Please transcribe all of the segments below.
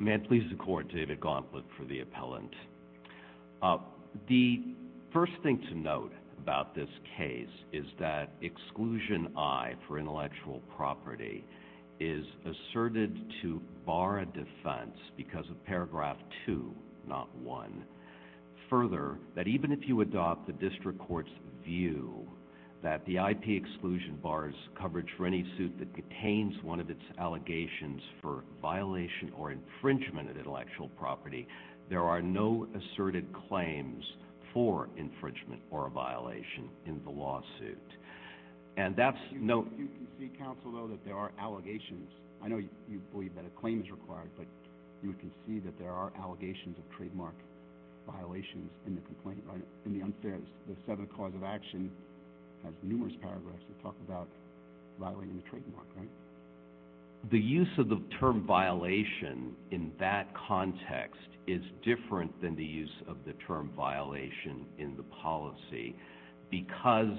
May I please the court, David Gauntlett for the appellant. The first thing to note about this case is that exclusion I for intellectual property is asserted to bar a defense because of paragraph 2, not 1. Further that even if you adopt the district court's view that the IP exclusion bars coverage for any suit that contains one of its allegations for violation or infringement of intellectual property, there are no asserted claims for infringement or a violation in the lawsuit. And that's no, you can see counsel, though, that there are allegations. I know you believe that a claim is required, but you can see that there are allegations of trademark violations in the complaint, right? In the unfairness, the seventh cause of action has numerous paragraphs that talk about violating the trademark, right? The use of the term violation in that context is different than the use of the term violation in the policy because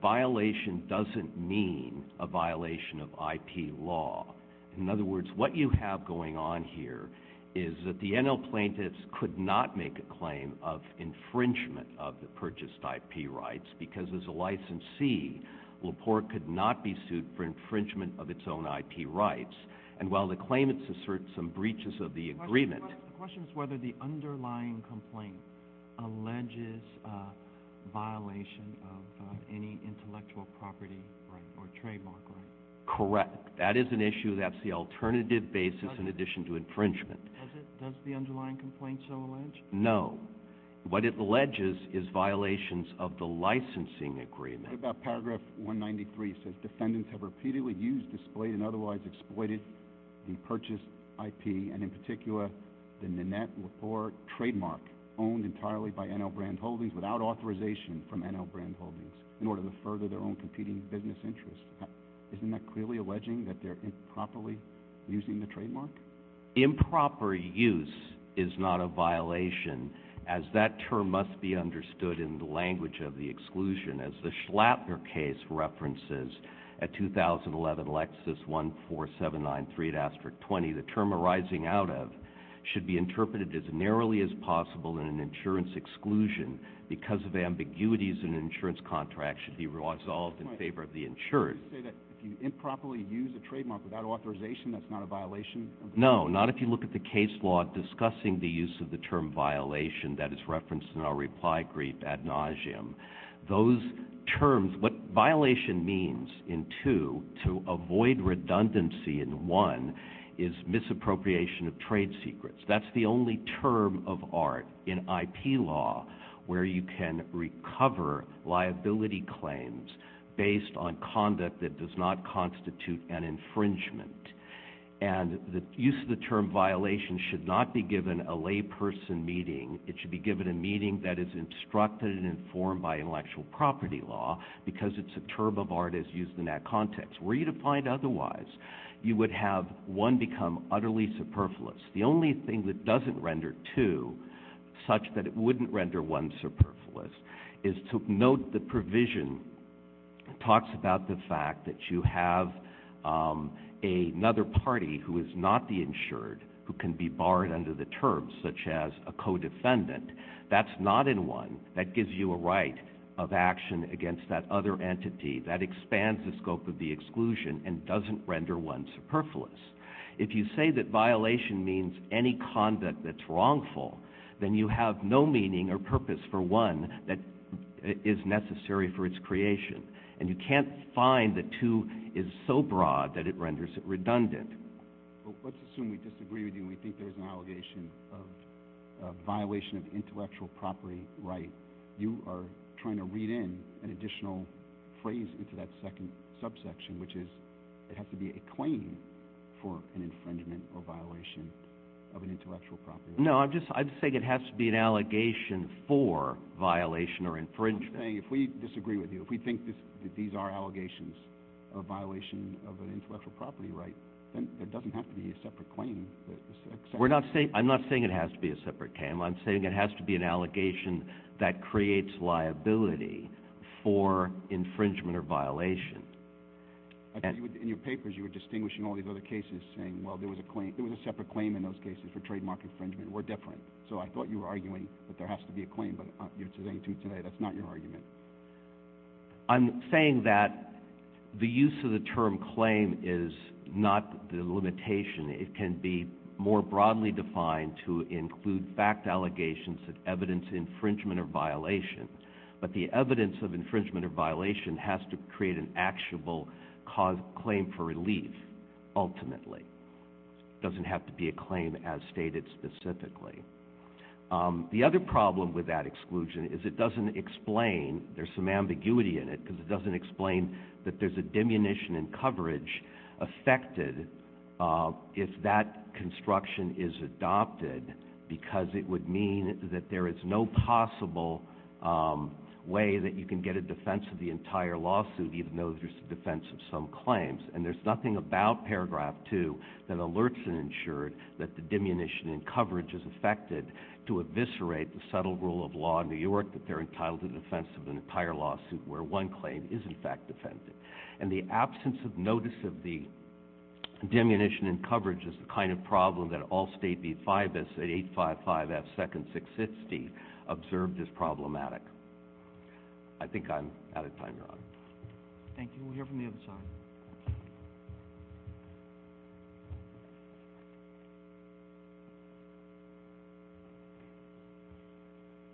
violation doesn't mean a violation of IP law. In other words, what you have going on here is that the NL plaintiffs could not make a claim of infringement of the purchased IP rights because as a licensee, Lepore could not be sued for infringement of its own IP rights. And while the claimants assert some breaches of the agreement, the question is whether the underlying complaint alleges a violation of any intellectual property right or trademark right. Correct. That is an issue. That's the alternative basis in addition to infringement. Does the underlying complaint so allege? No. What it alleges is violations of the licensing agreement. About paragraph 193 says defendants have repeatedly used, displayed and otherwise exploited the purchased IP and in particular the Nanette Lepore trademark owned entirely by NL Brand Holdings without authorization from NL Brand Holdings in order to further their own competing business interests. Isn't that clearly alleging that they're improperly using the trademark? Improper use is not a violation as that term must be understood in the language of the NL Brand Holdings section of paragraph 793, asterisk 20. The term arising out of should be interpreted as narrowly as possible in an insurance exclusion because of ambiguities in an insurance contract should be resolved in favor of the insurance. If you improperly use a trademark without authorization, that's not a violation. No, not if you look at the case law discussing the use of the term violation that is referenced in our reply brief ad nauseum. Those terms, what violation means in two to avoid redundancy in one is misappropriation of trade secrets. That's the only term of art in IP law where you can recover liability claims based on conduct that does not constitute an infringement. And the use of the term violation should not be given a layperson meeting. It should be given a meeting that is instructed and informed by intellectual property law because it's a term of art as used in that context. Were you to find otherwise, you would have one become utterly superfluous. The only thing that doesn't render two such that it wouldn't render one superfluous is to note the provision talks about the fact that you have another party who is not the terms, such as a co-defendant. That's not in one that gives you a right of action against that other entity that expands the scope of the exclusion and doesn't render one superfluous. If you say that violation means any conduct that's wrongful, then you have no meaning or purpose for one that is necessary for its creation. And you can't find the two is so broad that it renders it redundant. Well, let's assume we disagree with you. We think there's an allegation of a violation of intellectual property, right? You are trying to read in an additional phrase into that second subsection, which is it has to be a claim for an infringement or violation of an intellectual property. No, I'm just, I'd say it has to be an allegation for violation or infringement. I'm saying if we disagree with you, if we think that these are allegations of violation of intellectual property, right, then it doesn't have to be a separate claim. We're not saying, I'm not saying it has to be a separate claim. I'm saying it has to be an allegation that creates liability for infringement or violation. In your papers, you were distinguishing all these other cases saying, well, there was a claim, there was a separate claim in those cases for trademark infringement. We're different. So I thought you were arguing that there has to be a claim, but you're saying to me today, that's not your argument. I'm saying that the use of the term claim is not the limitation. It can be more broadly defined to include fact allegations of evidence infringement or violation. But the evidence of infringement or violation has to create an actual cause claim for relief, ultimately. It doesn't have to be a claim as stated specifically. The other problem with that exclusion is it doesn't explain, there's some ambiguity in it, because it doesn't explain that there's a diminution in coverage affected if that construction is adopted, because it would mean that there is no possible way that you can get a defense of the entire lawsuit, even though there's a defense of some claims. And there's nothing about paragraph two that alerts and ensures that the diminution in coverage is affected to eviscerate the subtle rule of law in New York, that they're entitled to defense of an entire lawsuit where one claim is in fact defended. And the absence of notice of the diminution in coverage is the kind of problem that all State v. FIBIS at 855-F-2nd-660 observed as problematic. I think I'm out of time, Your Honor. Thank you. We'll hear from the other side.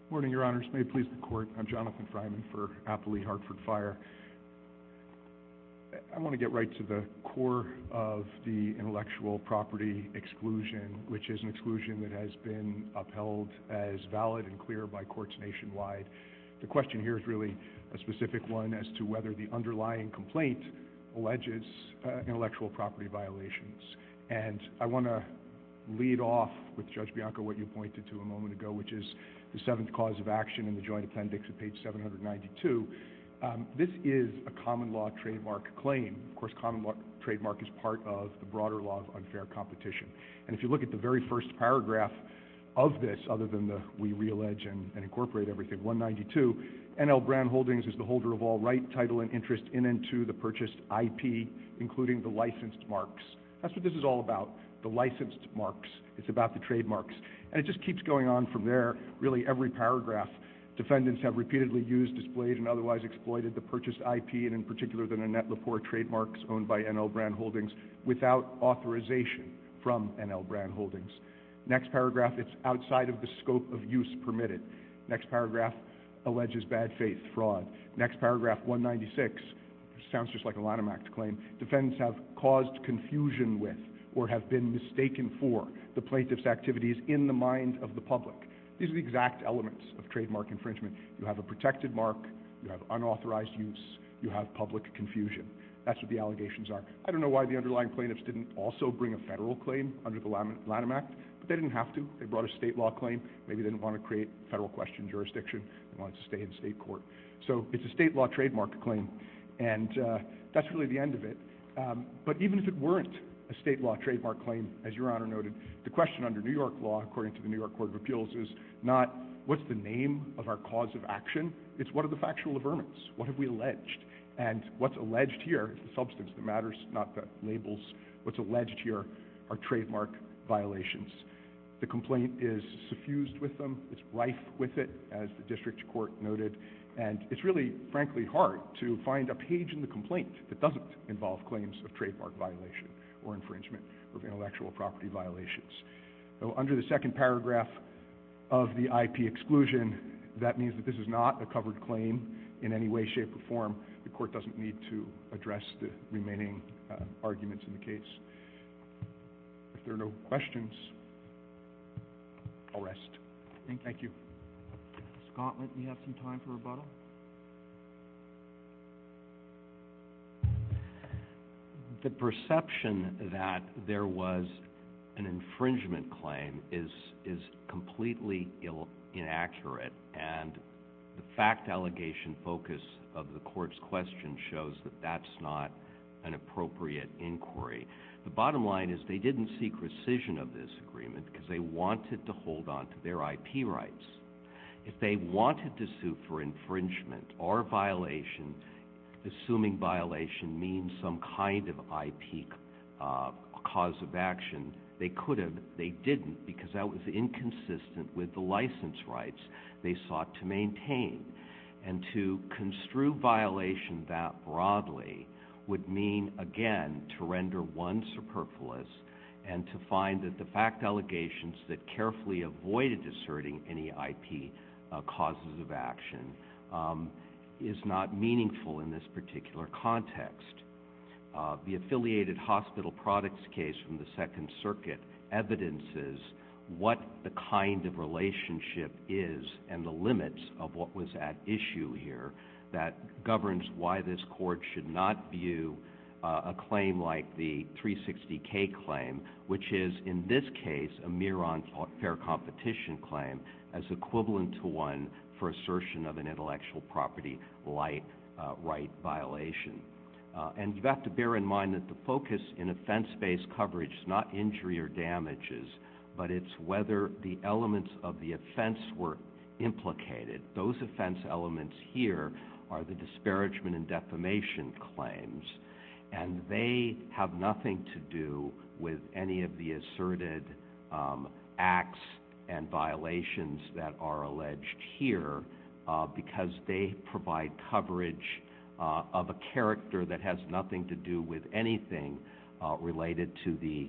Good morning, Your Honors. May it please the Court. I'm Jonathan Fryman for Appley Hartford Fire. I want to get right to the core of the intellectual property exclusion, which is an exclusion that has been upheld as valid and clear by courts nationwide. The question here is really a specific one as to whether the underlying complaint alleges intellectual property violations. And I want to lead off with Judge Bianco, what you pointed to a moment ago, which is the seventh cause of action in the joint appendix at page 792. This is a common law trademark claim. Of course, common law trademark is part of the broader law of unfair competition. And if you look at the very first paragraph of this, other than the we re-allege and incorporate everything, 192, N.L. Brown Holdings is the holder of all right, title, and interest in and to the purchased IP, including the licensed marks. That's what this is all about, the licensed marks. It's about the trademarks. And it just keeps going on from there. Really, every paragraph, defendants have repeatedly used, displayed, and otherwise exploited the purchased IP, and in particular, the Annette Lepore trademarks owned by N.L. Brown Holdings, without authorization from N.L. Brown Holdings. Next paragraph, it's outside of the scope of use permitted. Next paragraph, alleges bad faith, fraud. Next paragraph, 196, sounds just like a Lanham Act claim. Defendants have caused confusion with, or have been mistaken for, the plaintiff's activities in the mind of the public. These are the exact elements of trademark infringement. You have a protected mark, you have unauthorized use, you have public confusion. That's what the allegations are. I don't know why the underlying plaintiffs didn't also bring a federal claim under the Lanham Act, but they didn't have to. They brought a state law claim. Maybe they didn't want to create federal question jurisdiction. They wanted to stay in state court. So it's a state law trademark claim. And, uh, that's really the end of it. Um, but even if it weren't a state law trademark claim, as your honor noted, the question under New York law, according to the New York court of appeals is not what's the name of our cause of action, it's what are the factual averments? What have we alleged? And what's alleged here is the substance that matters, not the labels. What's alleged here are trademark violations. The complaint is suffused with them. It's rife with it as the district court noted. And it's really frankly hard to find a page in the complaint that doesn't involve claims of trademark violation or infringement of intellectual property violations. So under the second paragraph of the IP exclusion, that means that this is not a covered claim in any way, shape, or form the court doesn't need to address the remaining arguments in the case. If there are no questions, I'll rest. Thank you. Scott, let me have some time for rebuttal. The perception that there was an infringement claim is, is completely inaccurate and the fact allegation focus of the court's question shows that that's not an appropriate inquiry. The bottom line is they didn't seek rescission of this agreement because they wanted to hold on to their IP rights. If they wanted to sue for infringement or violation, assuming violation means some kind of IP cause of action, they could have, they didn't because that was inconsistent with the license rights they sought to maintain and to construe violation that broadly would mean again, to render one superfluous and to find that the fact allegations that carefully avoided asserting any IP causes of action is not meaningful in this particular context, the affiliated hospital products case from the second circuit evidences what the kind of relationship is and the limits of what was at issue here that governs why this K claim, which is in this case, a mirror on fair competition claim as equivalent to one for assertion of an intellectual property, light, right violation, and you've got to bear in mind that the focus in offense-based coverage is not injury or damages, but it's whether the elements of the offense were implicated. Those offense elements here are the disparagement and defamation claims, and they have nothing to do with any of the asserted acts and violations that are alleged here because they provide coverage of a character that has nothing to do with anything related to the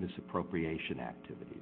misappropriation activities.